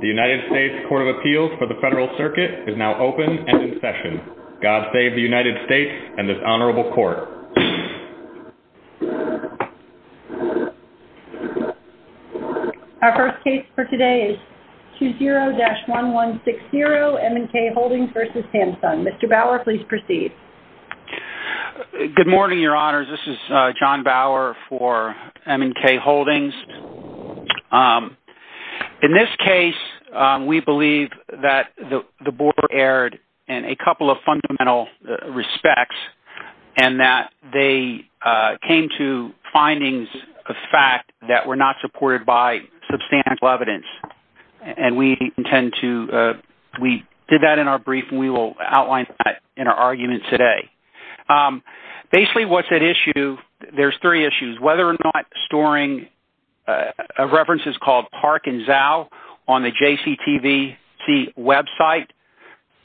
The United States Court of Appeals for the Federal Circuit is now open and in session. God save the United States and this Honorable Court. Our first case for today is 20-1160 M & K Holdings v. Samsung. Mr. Bauer, please proceed. Good morning, Your Honors. This is John Bauer for M & K Holdings. In this case, we believe that the Board erred in a couple of fundamental respects and that they came to findings of fact that were not supported by substantial evidence. We did that in our brief and we will outline that in our argument today. Basically, there are three issues. Whether or not storing references called Park and Zao on the JCTVC website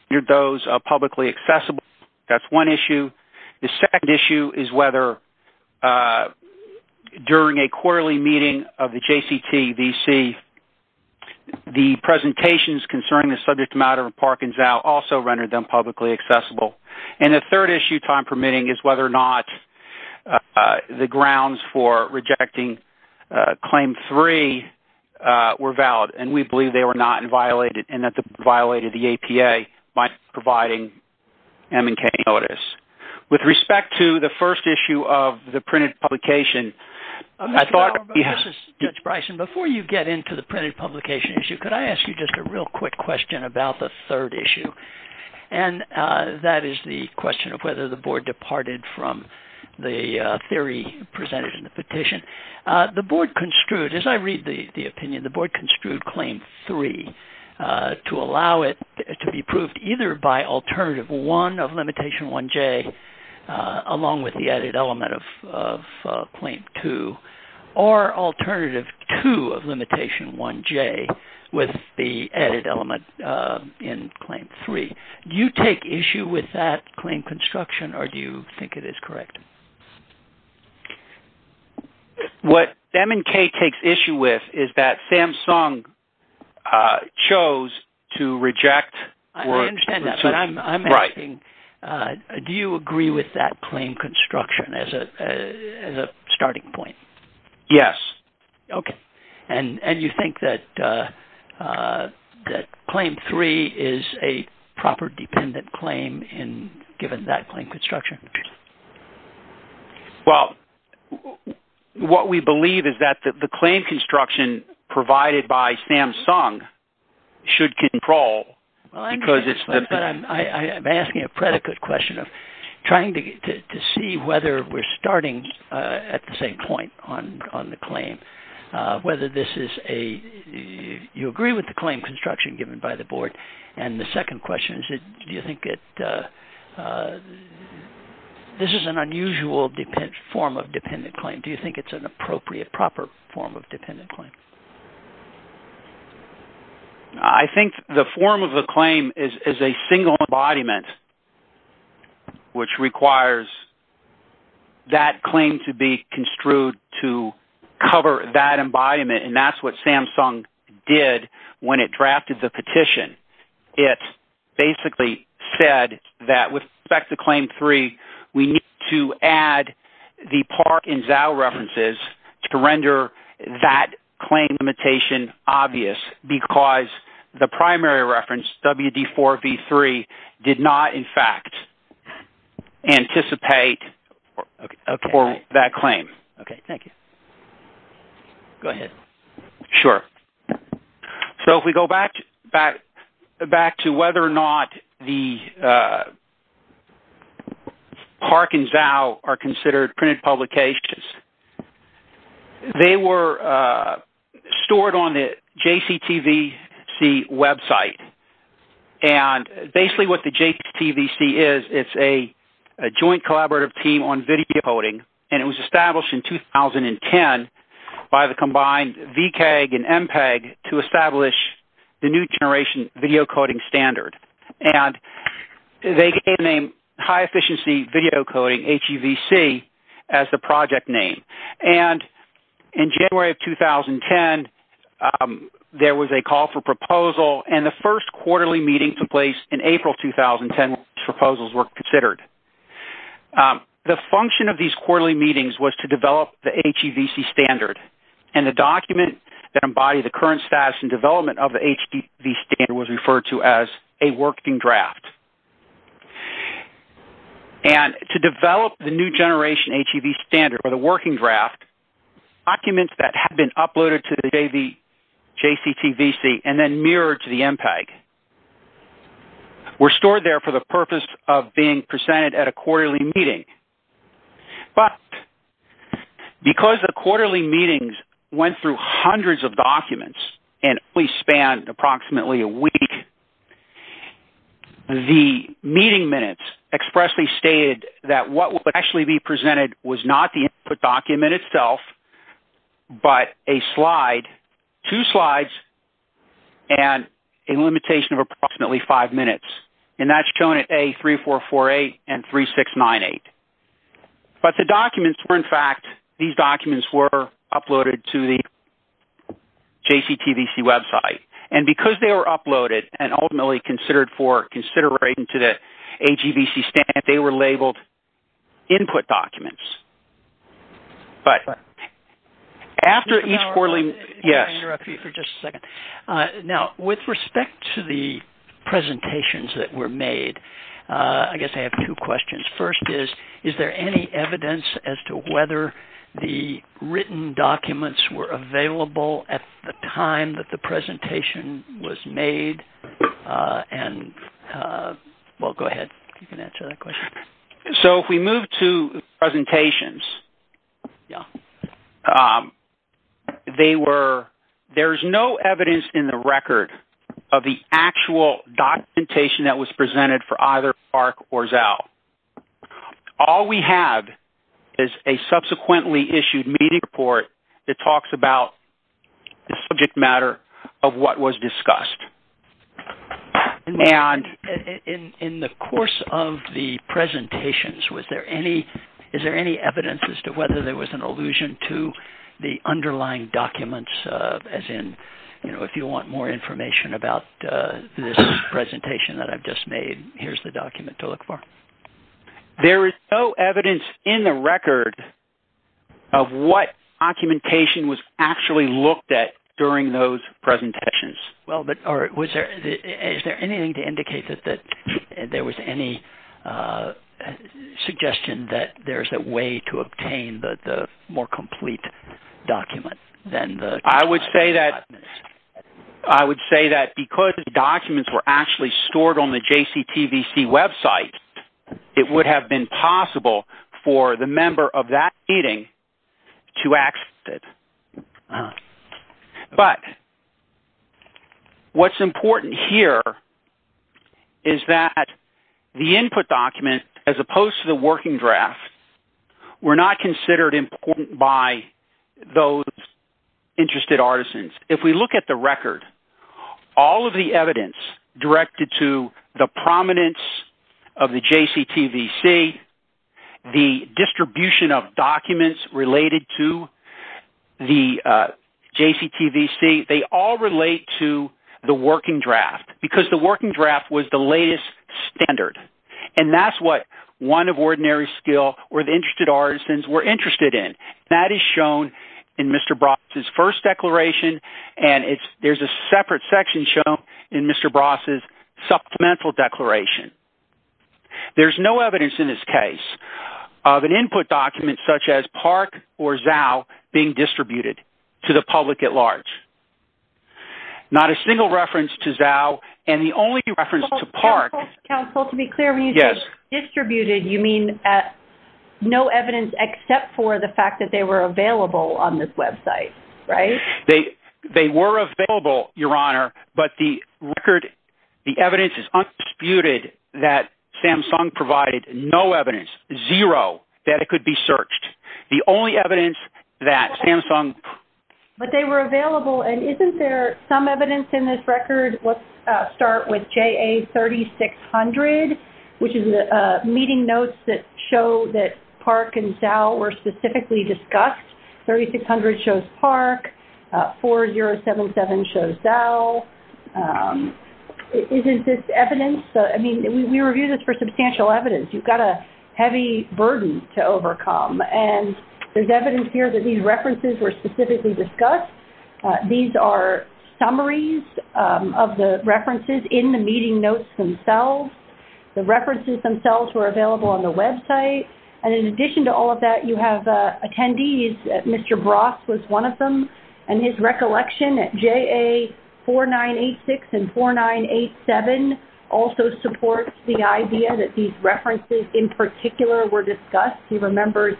rendered those publicly accessible, that's one issue. The second issue is whether during a quarterly meeting of the JCTVC, the presentations concerning the subject matter of Park and Zao also rendered them publicly accessible. The third issue, time permitting, is whether or not the grounds for rejecting Claim 3 were valid. We believe they were not and violated the APA by providing M & K notice. With respect to the first issue of the printed publication, I thought... Mr. Bauer, before you get into the printed publication issue, could I ask you just a real quick question about the third issue? That is the question of whether the Board departed from the theory presented in the petition. The Board construed, as I read the opinion, the Board construed Claim 3 to allow it to be approved either by Alternative 1 of Limitation 1J along with the added element of Claim 2 or Alternative 2 of Limitation 1J with the added element in Claim 3. Do you take issue with that claim construction or do you think it is correct? What M & K takes issue with is that SAMSUNG chose to reject... I understand that, but I'm asking, do you agree with that claim construction as a starting point? Yes. Okay. And you think that Claim 3 is a proper dependent claim given that claim construction? Well, what we believe is that the claim construction provided by SAMSUNG should control... I'm asking a predicate question of trying to see whether we're starting at the same point on the claim, whether you agree with the claim construction given by the Board. And the second question is, do you think this is an unusual form of dependent claim? Do you think it's an appropriate, proper form of dependent claim? I think the form of the claim is a single embodiment, which requires that claim to be construed to cover that embodiment, and that's what SAMSUNG did when it drafted the petition. It basically said that with respect to Claim 3, we need to add the Park and Zhou references to render that claim limitation obvious because the primary reference, WD4V3, did not in fact anticipate for that claim. Okay. Thank you. Go ahead. Sure. So if we go back to whether or not the Park and Zhou are considered printed publications, they were stored on the JCTVC website. And basically what the JCTVC is, it's a joint collaborative team on video coding, and it was established in 2010 by the combined VCAG and MPAG to establish the New Generation Video Coding Standard. And they gave the name High Efficiency Video Coding, HEVC, as the project name. And in January of 2010, there was a call for proposal, and the first quarterly meeting took place in April 2010, which proposals were considered. The function of these quarterly meetings was to develop the HEVC standard, and the document that embodied the current status and development of the HEVC standard was referred to as a working draft. And to develop the New Generation HEVC standard, or the working draft, documents that had been uploaded to the JCTVC and then mirrored to the MPAG were stored there for the purpose of being presented at a quarterly meeting. But because the quarterly meetings went through hundreds of documents and at least spanned approximately a week, the meeting minutes expressly stated that what would actually be presented was not the input document itself, but a slide, two slides, and a limitation of approximately five minutes. And that's shown at A3448 and 3698. But the documents were, in fact, these documents were uploaded to the JCTVC website. And because they were uploaded and ultimately considered for consideration to the HEVC standard, they were labeled input documents. But after each quarterly meeting- I'm going to interrupt you for just a second. Now, with respect to the presentations that were made, I guess I have two questions. First is, is there any evidence as to whether the written documents were available at the time that the presentation was made and-well, go ahead. You can answer that question. So if we move to presentations, they were-there's no evidence in the record of the actual documentation that was presented for either AHRQ or ZAL. All we have is a subsequently issued meeting report that talks about the subject matter of what was discussed. And in the course of the presentations, was there any-is there any evidence as to whether there was an allusion to the underlying documents, as in, you know, if you want more information about this presentation that I've just made, here's the document to look for. There is no evidence in the record of what documentation was actually looked at during those presentations. Well, but-or is there anything to indicate that there was any suggestion that there's a way to obtain the more complete document than the- I would say that because the documents were actually stored on the JCTVC website, it would have been possible for the member of that meeting to access it. But what's important here is that the input document, as opposed to the working draft, were not considered important by those interested artisans. If we look at the record, all of the evidence directed to the prominence of the JCTVC, the distribution of documents related to the JCTVC, they all relate to the working draft because the working draft was the latest standard. And that's what one of ordinary skill or the interested artisans were interested in. That is shown in Mr. Bross' first declaration, and there's a separate section shown in Mr. Bross' supplemental declaration. There's no evidence in this case of an input document such as PARC or ZAO being distributed to the public at large. Not a single reference to ZAO and the only reference to PARC- Counsel, to be clear, when you say distributed, you mean no evidence except for the fact that they were available on this website, right? They were available, Your Honor, but the record-the evidence is undisputed that Samsung provided no evidence, zero, that it could be searched. The only evidence that Samsung- But they were available, and isn't there some evidence in this record? Let's start with JA3600, which is the meeting notes that show that PARC and ZAO were specifically discussed. 3600 shows PARC. 4077 shows ZAO. Isn't this evidence? I mean, we review this for substantial evidence. You've got a heavy burden to overcome, and there's evidence here that these references were specifically discussed. These are summaries of the references in the meeting notes themselves. The references themselves were available on the website, and in addition to all of that, you have attendees. Mr. Bross was one of them, and his recollection at JA4986 and 4987 also supports the idea that these references in particular were discussed. He remembers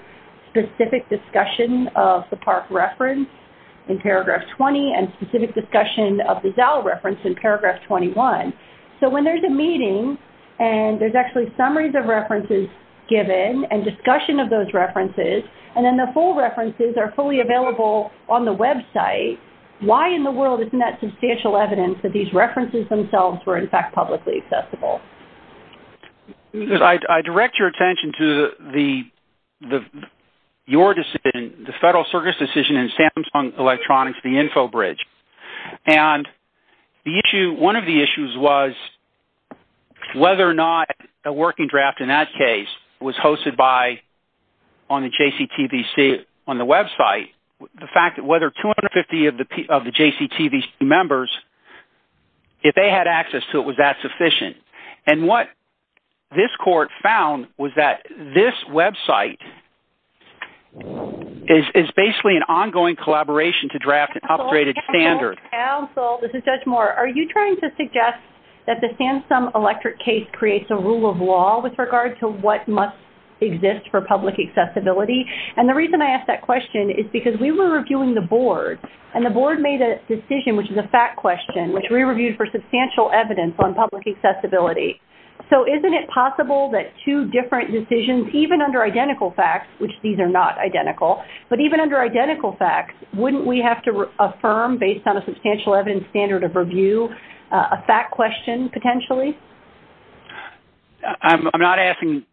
specific discussion of the PARC reference in paragraph 20 and specific discussion of the ZAO reference in paragraph 21. So when there's a meeting, and there's actually summaries of references given and discussion of those references, and then the full references are fully available on the website, why in the world isn't that substantial evidence that these references themselves were in fact publicly accessible? I direct your attention to your decision, the Federal Service decision in Samsung Electronics, the Infobridge. And one of the issues was whether or not a working draft in that case was hosted on the JCTV website, the fact that whether 250 of the JCTV members, if they had access to it, was that sufficient? And what this court found was that this website is basically an ongoing collaboration to draft an upgraded standard. Counsel, this is Judge Moore. Are you trying to suggest that the Samsung Electric case creates a rule of law with regard to what must exist for public accessibility? And the reason I ask that question is because we were reviewing the board, and the board made a decision, which is a fact question, which we reviewed for substantial evidence on public accessibility. So isn't it possible that two different decisions, even under identical facts, which these are not identical, but even under identical facts, wouldn't we have to affirm based on a substantial evidence standard of review a fact question potentially? I'm not asking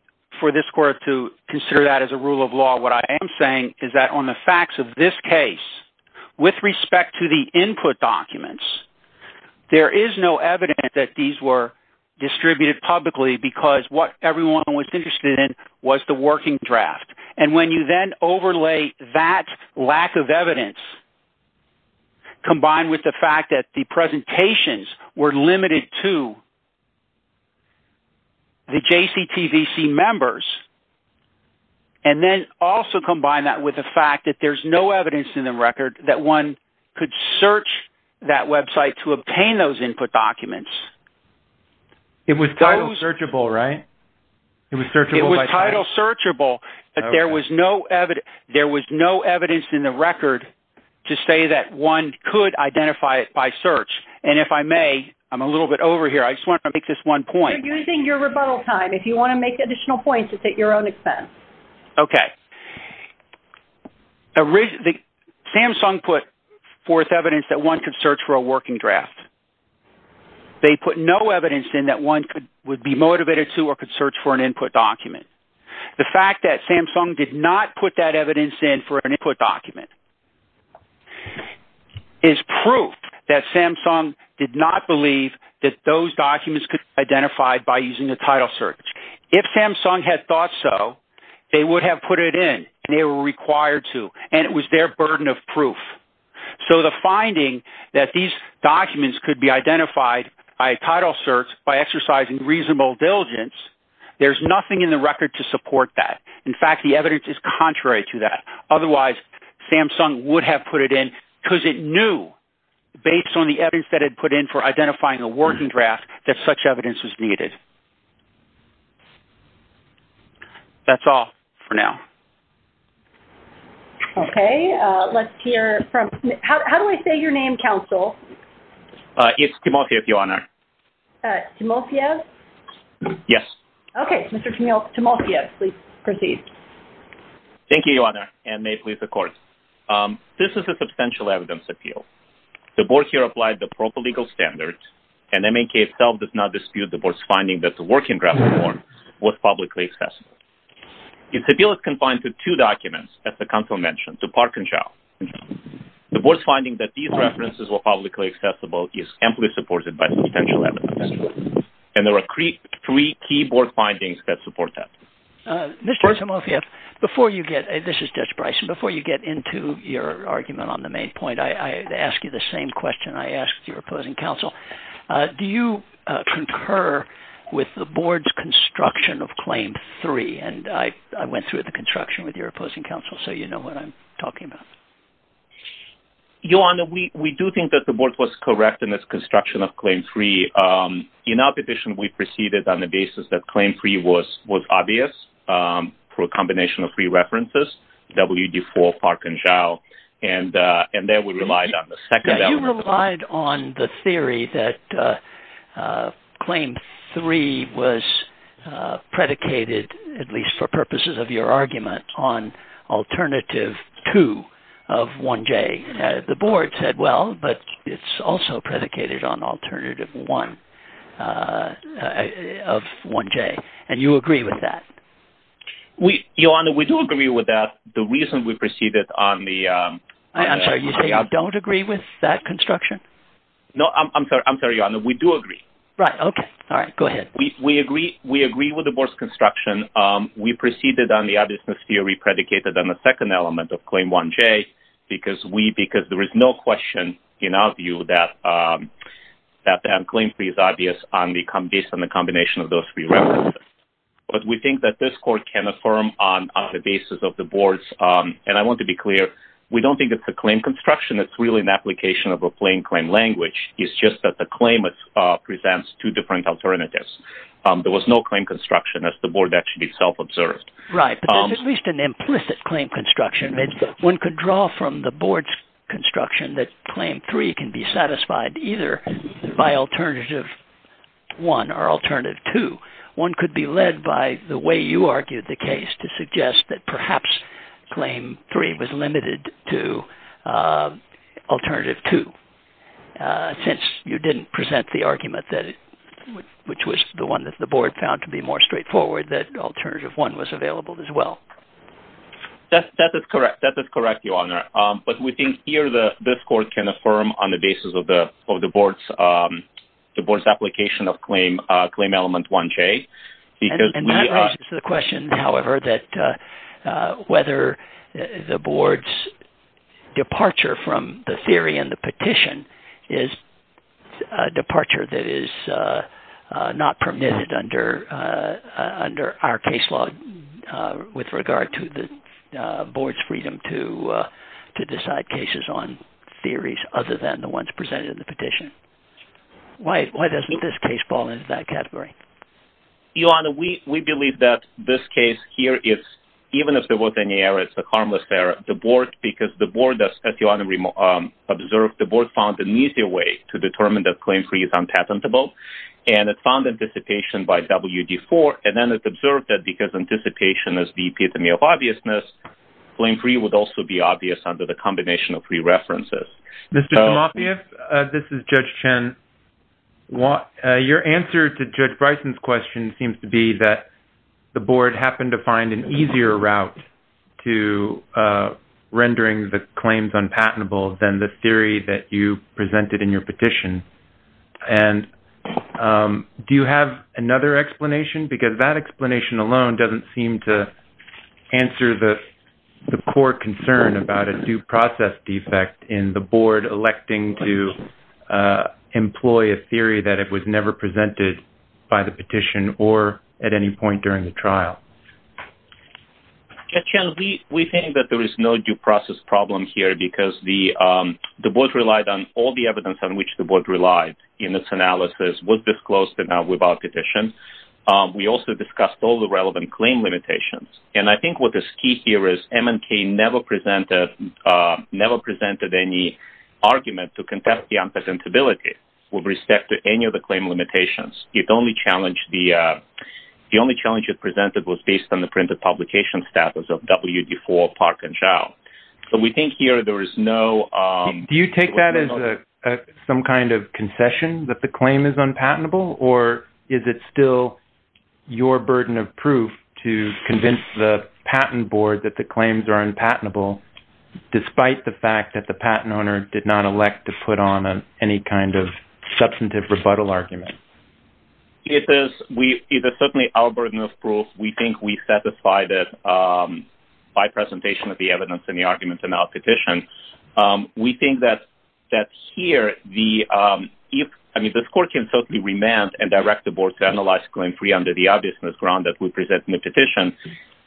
for this court to consider that as a rule of law. What I am saying is that on the facts of this case, with respect to the input documents, there is no evidence that these were distributed publicly because what everyone was interested in was the working draft. And when you then overlay that lack of evidence combined with the fact that the presentations were limited to the JCTVC members, and then also combine that with the fact that there's no evidence in the record that one could search that website to obtain those input documents. It was title searchable, right? It was title searchable, but there was no evidence in the record to say that one could identify it by title search. And if I may, I'm a little bit over here. I just want to make this one point. You're using your rebuttal time. If you want to make additional points, it's at your own expense. Okay. Samsung put forth evidence that one could search for a working draft. They put no evidence in that one would be motivated to or could search for an input document. The fact that Samsung did not put that evidence in for an input document is proof that Samsung did not believe that those documents could be identified by using a title search. If Samsung had thought so, they would have put it in, and they were required to, and it was their burden of proof. So the finding that these documents could be identified by a title search by exercising reasonable diligence, there's nothing in the record to support that. In fact, the evidence is contrary to that. Otherwise, Samsung would have put it in because it knew, based on the evidence that it put in for identifying a working draft, that such evidence was needed. That's all for now. Okay. Let's hear from – how do I say your name, counsel? It's Timofiev, Your Honor. Timofiev? Yes. Okay. Mr. Timofiev, please proceed. Thank you, Your Honor, and may it please the Court. This is a substantial evidence appeal. The Board here applied the proper legal standards, and MNK itself does not dispute the Board's finding that the working draft was publicly accessible. Its appeal is confined to two documents, as the counsel mentioned, to Park and Chow. The Board's finding that these references were publicly accessible is amply supported by substantial evidence, and there are three key Board findings that support that. Mr. Timofiev, before you get – this is Judge Bryson – before you get into your argument on the main point, I ask you the same question I asked your opposing counsel. Do you concur with the Board's construction of Claim 3? And I went through the construction with your opposing counsel, so you know what I'm talking about. Your Honor, we do think that the Board was correct in its construction of Claim 3. In our petition, we proceeded on the basis that Claim 3 was obvious for a combination of three references, WD4, Park, and Chow, and there we relied on the second element of the claim. You relied on the theory that Claim 3 was predicated, at least for purposes of your argument, on Alternative 2 of 1J. The Board said, well, but it's also predicated on Alternative 1 of 1J, and you agree with that? Your Honor, we do agree with that. The reason we proceeded on the – I'm sorry, you say you don't agree with that construction? No, I'm sorry, Your Honor, we do agree. Right, okay. All right, go ahead. We agree with the Board's construction. We proceeded on the obviousness theory predicated on the second element of Claim 1J because there is no question in our view that Claim 3 is obvious based on the combination of those three references. But we think that this Court can affirm on the basis of the Board's – and I want to be clear, we don't think it's a claim construction. It's really an application of a plain claim language. It's just that the claim presents two different alternatives. There was no claim construction, as the Board actually self-observed. Right, but there's at least an implicit claim construction. One could draw from the Board's construction that Claim 3 can be satisfied either by Alternative 1 or Alternative 2. One could be led by the way you argued the case to suggest that perhaps Claim 3 was limited to Alternative 2 since you didn't present the argument, which was the one that the Board found to be more straightforward, that Alternative 1 was available as well. That is correct, Your Honor. But we think here this Court can affirm on the basis of the Board's application of Claim Element 1J. And that raises the question, however, that whether the Board's departure from the theory and the petition is a departure that is not permitted under our case law with regard to the Board's freedom to decide cases on theories other than the ones presented in the petition. Why doesn't this case fall into that category? Your Honor, we believe that this case here is, even if there was any error, it's a harmless error. Because the Board, as Your Honor observed, the Board found an easier way to determine that Claim 3 is unpatentable. And it found anticipation by WD-IV. And then it observed that because anticipation is the epitome of obviousness, Claim 3 would also be obvious under the combination of three references. Mr. Tomafiev, this is Judge Chen. Your answer to Judge Bryson's question seems to be that the Board happened to find an easier route to rendering the claims unpatentable than the theory that you presented in your petition. And do you have another explanation? Because that explanation alone doesn't seem to answer the core concern about a due process defect in the Board electing to employ a theory that it was never presented by the petition or at any point during the trial. Judge Chen, we think that there is no due process problem here because the Board relied on all the evidence on which the Board relied in its analysis was disclosed without petition. We also discussed all the relevant claim limitations. And I think what is key here is M&K never presented any argument to contest the unpatentability with respect to any of the claim limitations. The only challenge it presented was based on the printed publication status of WD-IV, Park, and Chau. So we think here there is no... Is it your intention that the claim is unpatentable, or is it still your burden of proof to convince the patent Board that the claims are unpatentable despite the fact that the patent owner did not elect to put on any kind of substantive rebuttal argument? It is certainly our burden of proof. We think we satisfied it by presentation of the evidence in the argument in our petition. We think that here the score can certainly remand and direct the Board to analyze Claim 3 under the obviousness ground that we present in the petition.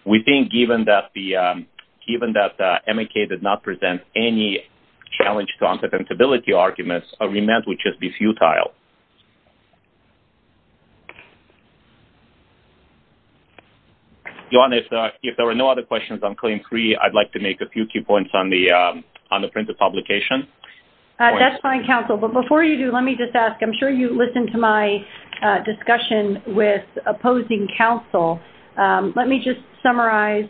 We think given that M&K did not present any challenge to unpatentability arguments, a remand would just be futile. Joanne, if there are no other questions on Claim 3, I'd like to make a few key points on the printed publication. That's fine, Counsel. But before you do, let me just ask. I'm sure you listened to my discussion with opposing counsel. Let me just summarize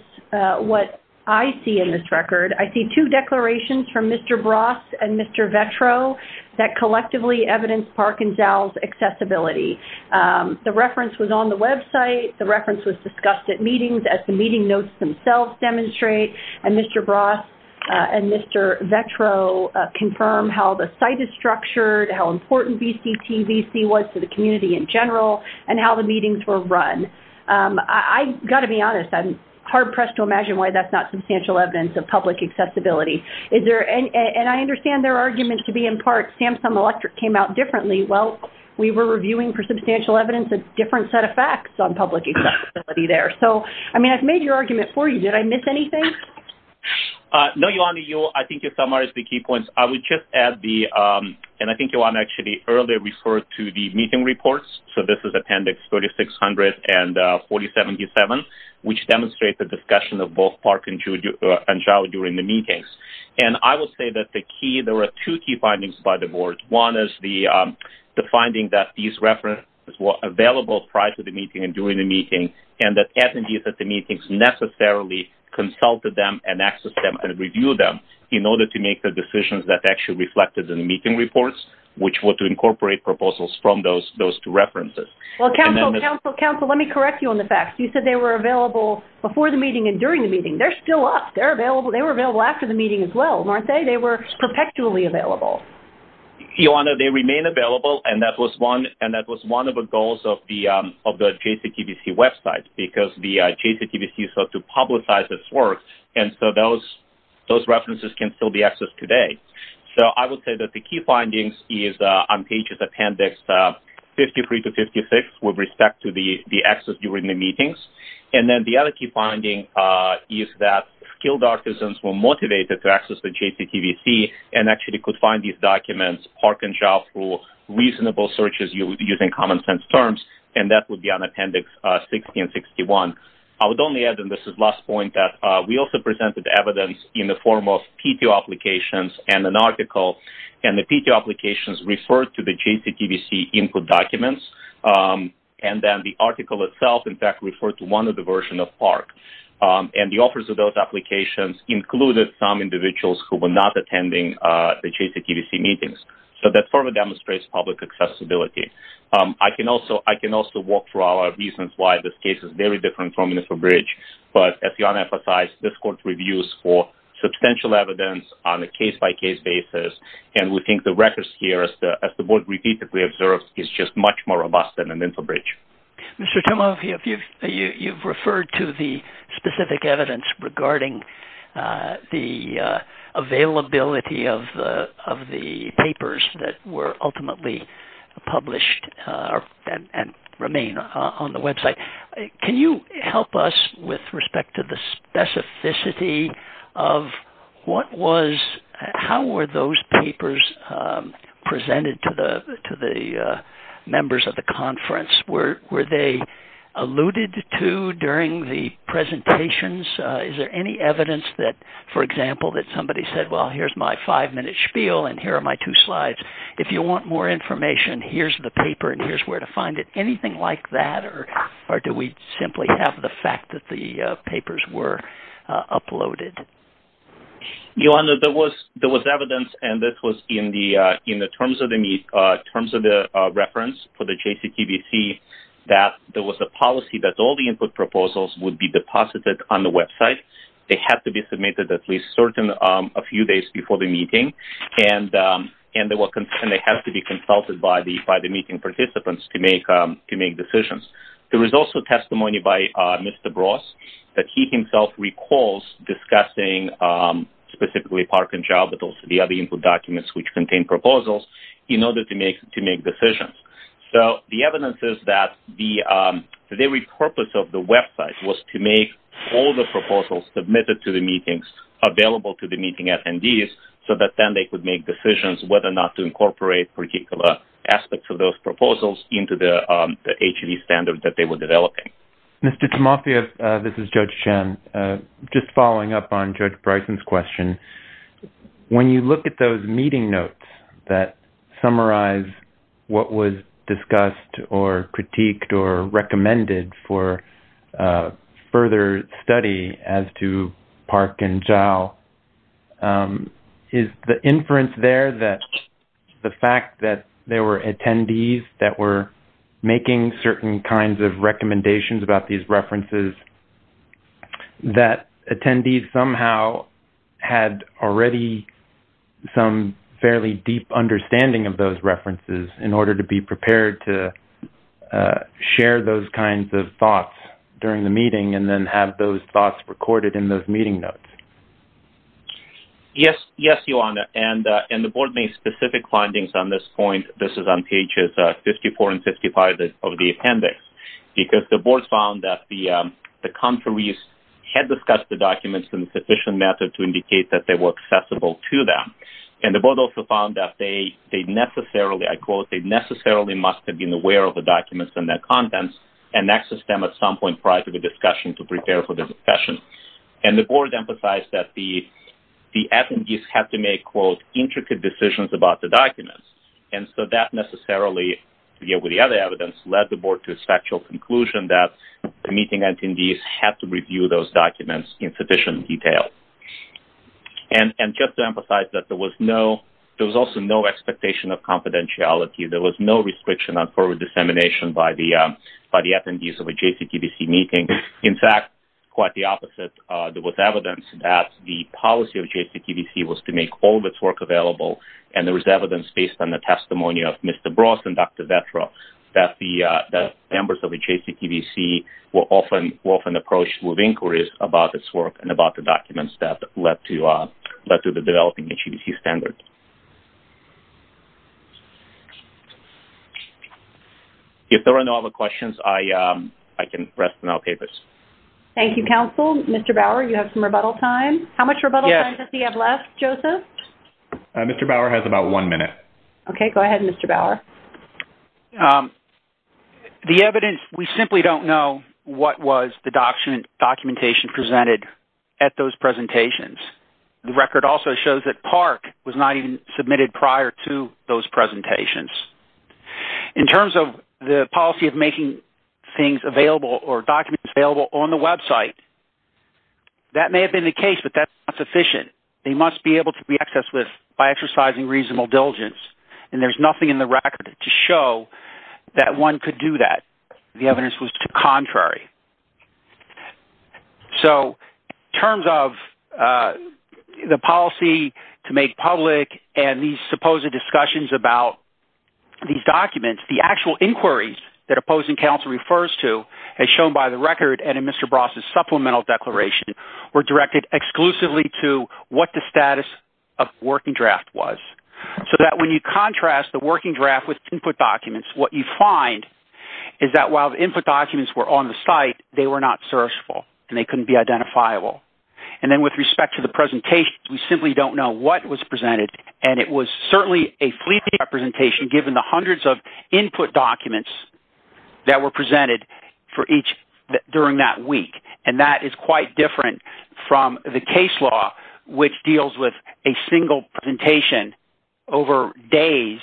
what I see in this record. I see two declarations from Mr. Bross and Mr. Vetro that collectively evidence Park's claim The reference was on the website. The reference was discussed at meetings, as the meeting notes themselves demonstrate. And Mr. Bross and Mr. Vetro confirm how the site is structured, how important BCTVC was to the community in general, and how the meetings were run. I've got to be honest. I'm hard-pressed to imagine why that's not substantial evidence of public accessibility. And I understand their argument to be in part that Samsung Electric came out differently. Well, we were reviewing for substantial evidence of a different set of facts on public accessibility there. So, I mean, I've made your argument for you. Did I miss anything? No, Joanne. I think you summarized the key points. I would just add the, and I think, Joanne, actually earlier referred to the meeting reports. So this is Appendix 3600 and 4077, which demonstrate the discussion of both Park and Chau during the meetings. And I would say that the key, there were two key findings by the board. One is the finding that these references were available prior to the meeting and during the meeting, and that attendees at the meetings necessarily consulted them and accessed them and reviewed them in order to make the decisions that actually reflected in the meeting reports, which were to incorporate proposals from those two references. Well, counsel, counsel, counsel, let me correct you on the facts. You said they were available before the meeting and during the meeting. They're still up. They were available after the meeting as well, weren't they? Or did you say they were perpetually available? Joanne, they remain available, and that was one, and that was one of the goals of the JCTVC website because the JCTVC sought to publicize its work, and so those references can still be accessed today. So I would say that the key findings is on pages Appendix 53 to 56 with respect to the access during the meetings. And then the other key finding is that skilled artisans were motivated to access the JCTVC and actually could find these documents, park and job pool, reasonable searches using common sense terms, and that would be on Appendix 60 and 61. I would only add, and this is the last point, that we also presented evidence in the form of PTO applications and an article, and the PTO applications referred to the JCTVC input documents, referred to one of the versions of PARC. And the authors of those applications included some individuals who were not attending the JCTVC meetings. So that further demonstrates public accessibility. I can also walk through our reasons why this case is very different from InfoBridge, but as Joanne emphasized, this court reviews for substantial evidence on a case-by-case basis, and we think the records here, as the board repeatedly observed, is just much more robust than in InfoBridge. Mr. Tomov, you've referred to the specific evidence regarding the availability of the papers that were ultimately published and remain on the website. Can you help us with respect to the specificity of what was, how were those papers presented to the members of the conference? Were they alluded to during the presentations? Is there any evidence that, for example, that somebody said, well, here's my five-minute spiel and here are my two slides. If you want more information, here's the paper and here's where to find it. Anything like that, or do we simply have the fact that the papers were uploaded? Joanne, there was evidence, and this was in the terms of the reference for the JCTBC, that there was a policy that all the input proposals would be deposited on the website. They had to be submitted at least a few days before the meeting, and they had to be consulted by the meeting participants to make decisions. There was also testimony by Mr. Bross that he himself recalls discussing, specifically Parkinjobitals, the other input documents which contain proposals, in order to make decisions. So the evidence is that the very purpose of the website was to make all the proposals submitted to the meetings available to the meeting attendees so that then they could make decisions whether or not to incorporate particular aspects of those proposals into the HEV standard that they were developing. Mr. Timofeyev, this is Judge Chen. Just following up on Judge Bryson's question, when you look at those meeting notes that summarize what was discussed or critiqued or recommended for further study as to Parkinjobitals, is the inference there that the fact that there were attendees that were making certain kinds of recommendations about these references, that attendees somehow had already some fairly deep understanding of those references in order to be prepared to share those kinds of thoughts during the meeting and then have those thoughts recorded in those meeting notes? Yes, Your Honor. And the Board made specific findings on this point. This is on pages 54 and 55 of the appendix because the Board found that the contraries had discussed the documents in a sufficient manner to indicate that they were accessible to them. And the Board also found that they necessarily, I quote, they necessarily must have been aware of the documents and their contents and accessed them at some point prior to the discussion to prepare for the discussion. And the Board emphasized that the attendees had to make, quote, intricate decisions about the documents. And so that necessarily, together with the other evidence, led the Board to a factual conclusion that the meeting attendees had to review those documents in sufficient detail. And just to emphasize that there was no, there was also no expectation of confidentiality. There was no restriction on forward dissemination by the attendees of a JCTVC meeting. In fact, quite the opposite. There was evidence that the policy of JCTVC was to make all of its work available and there was evidence based on the testimony of Mr. Bross and Dr. Vetra that the members of the JCTVC were often approached with inquiries about its work and about the documents that led to the developing JCTVC standards. If there are no other questions, I can rest on our papers. Thank you, counsel. Mr. Bauer, you have some rebuttal time. How much rebuttal time does he have left, Joseph? Mr. Bauer has about one minute. Okay, go ahead, Mr. Bauer. The evidence, we simply don't know what was the documentation presented at those presentations. The record also shows that PARC was not even submitted prior to those presentations. In terms of the policy of making things available or documents available on the website, that may have been the case, but that's not sufficient. They must be able to be accessed by exercising reasonable diligence, and there's nothing in the record to show that one could do that. The evidence was contrary. So in terms of the policy to make public and these supposed discussions about these documents, the actual inquiries that opposing counsel refers to as shown by the record and in Mr. Bross' supplemental declaration were directed exclusively to what the status of working draft was so that when you contrast the working draft with input documents, what you find is that while the input documents were on the site, they were not searchable and they couldn't be identifiable. And then with respect to the presentation, we simply don't know what was presented, and it was certainly a fleeting representation given the hundreds of input documents that were presented during that week, and that is quite different from the case law, which deals with a single presentation over days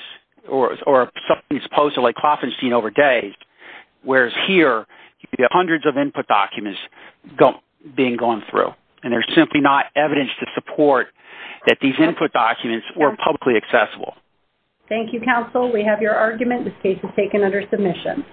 or something that's posted like Klopfenstein over days, whereas here you have hundreds of input documents being gone through, and there's simply not evidence to support that these input documents were publicly accessible. Thank you, counsel. We have your argument. This case is taken under submission.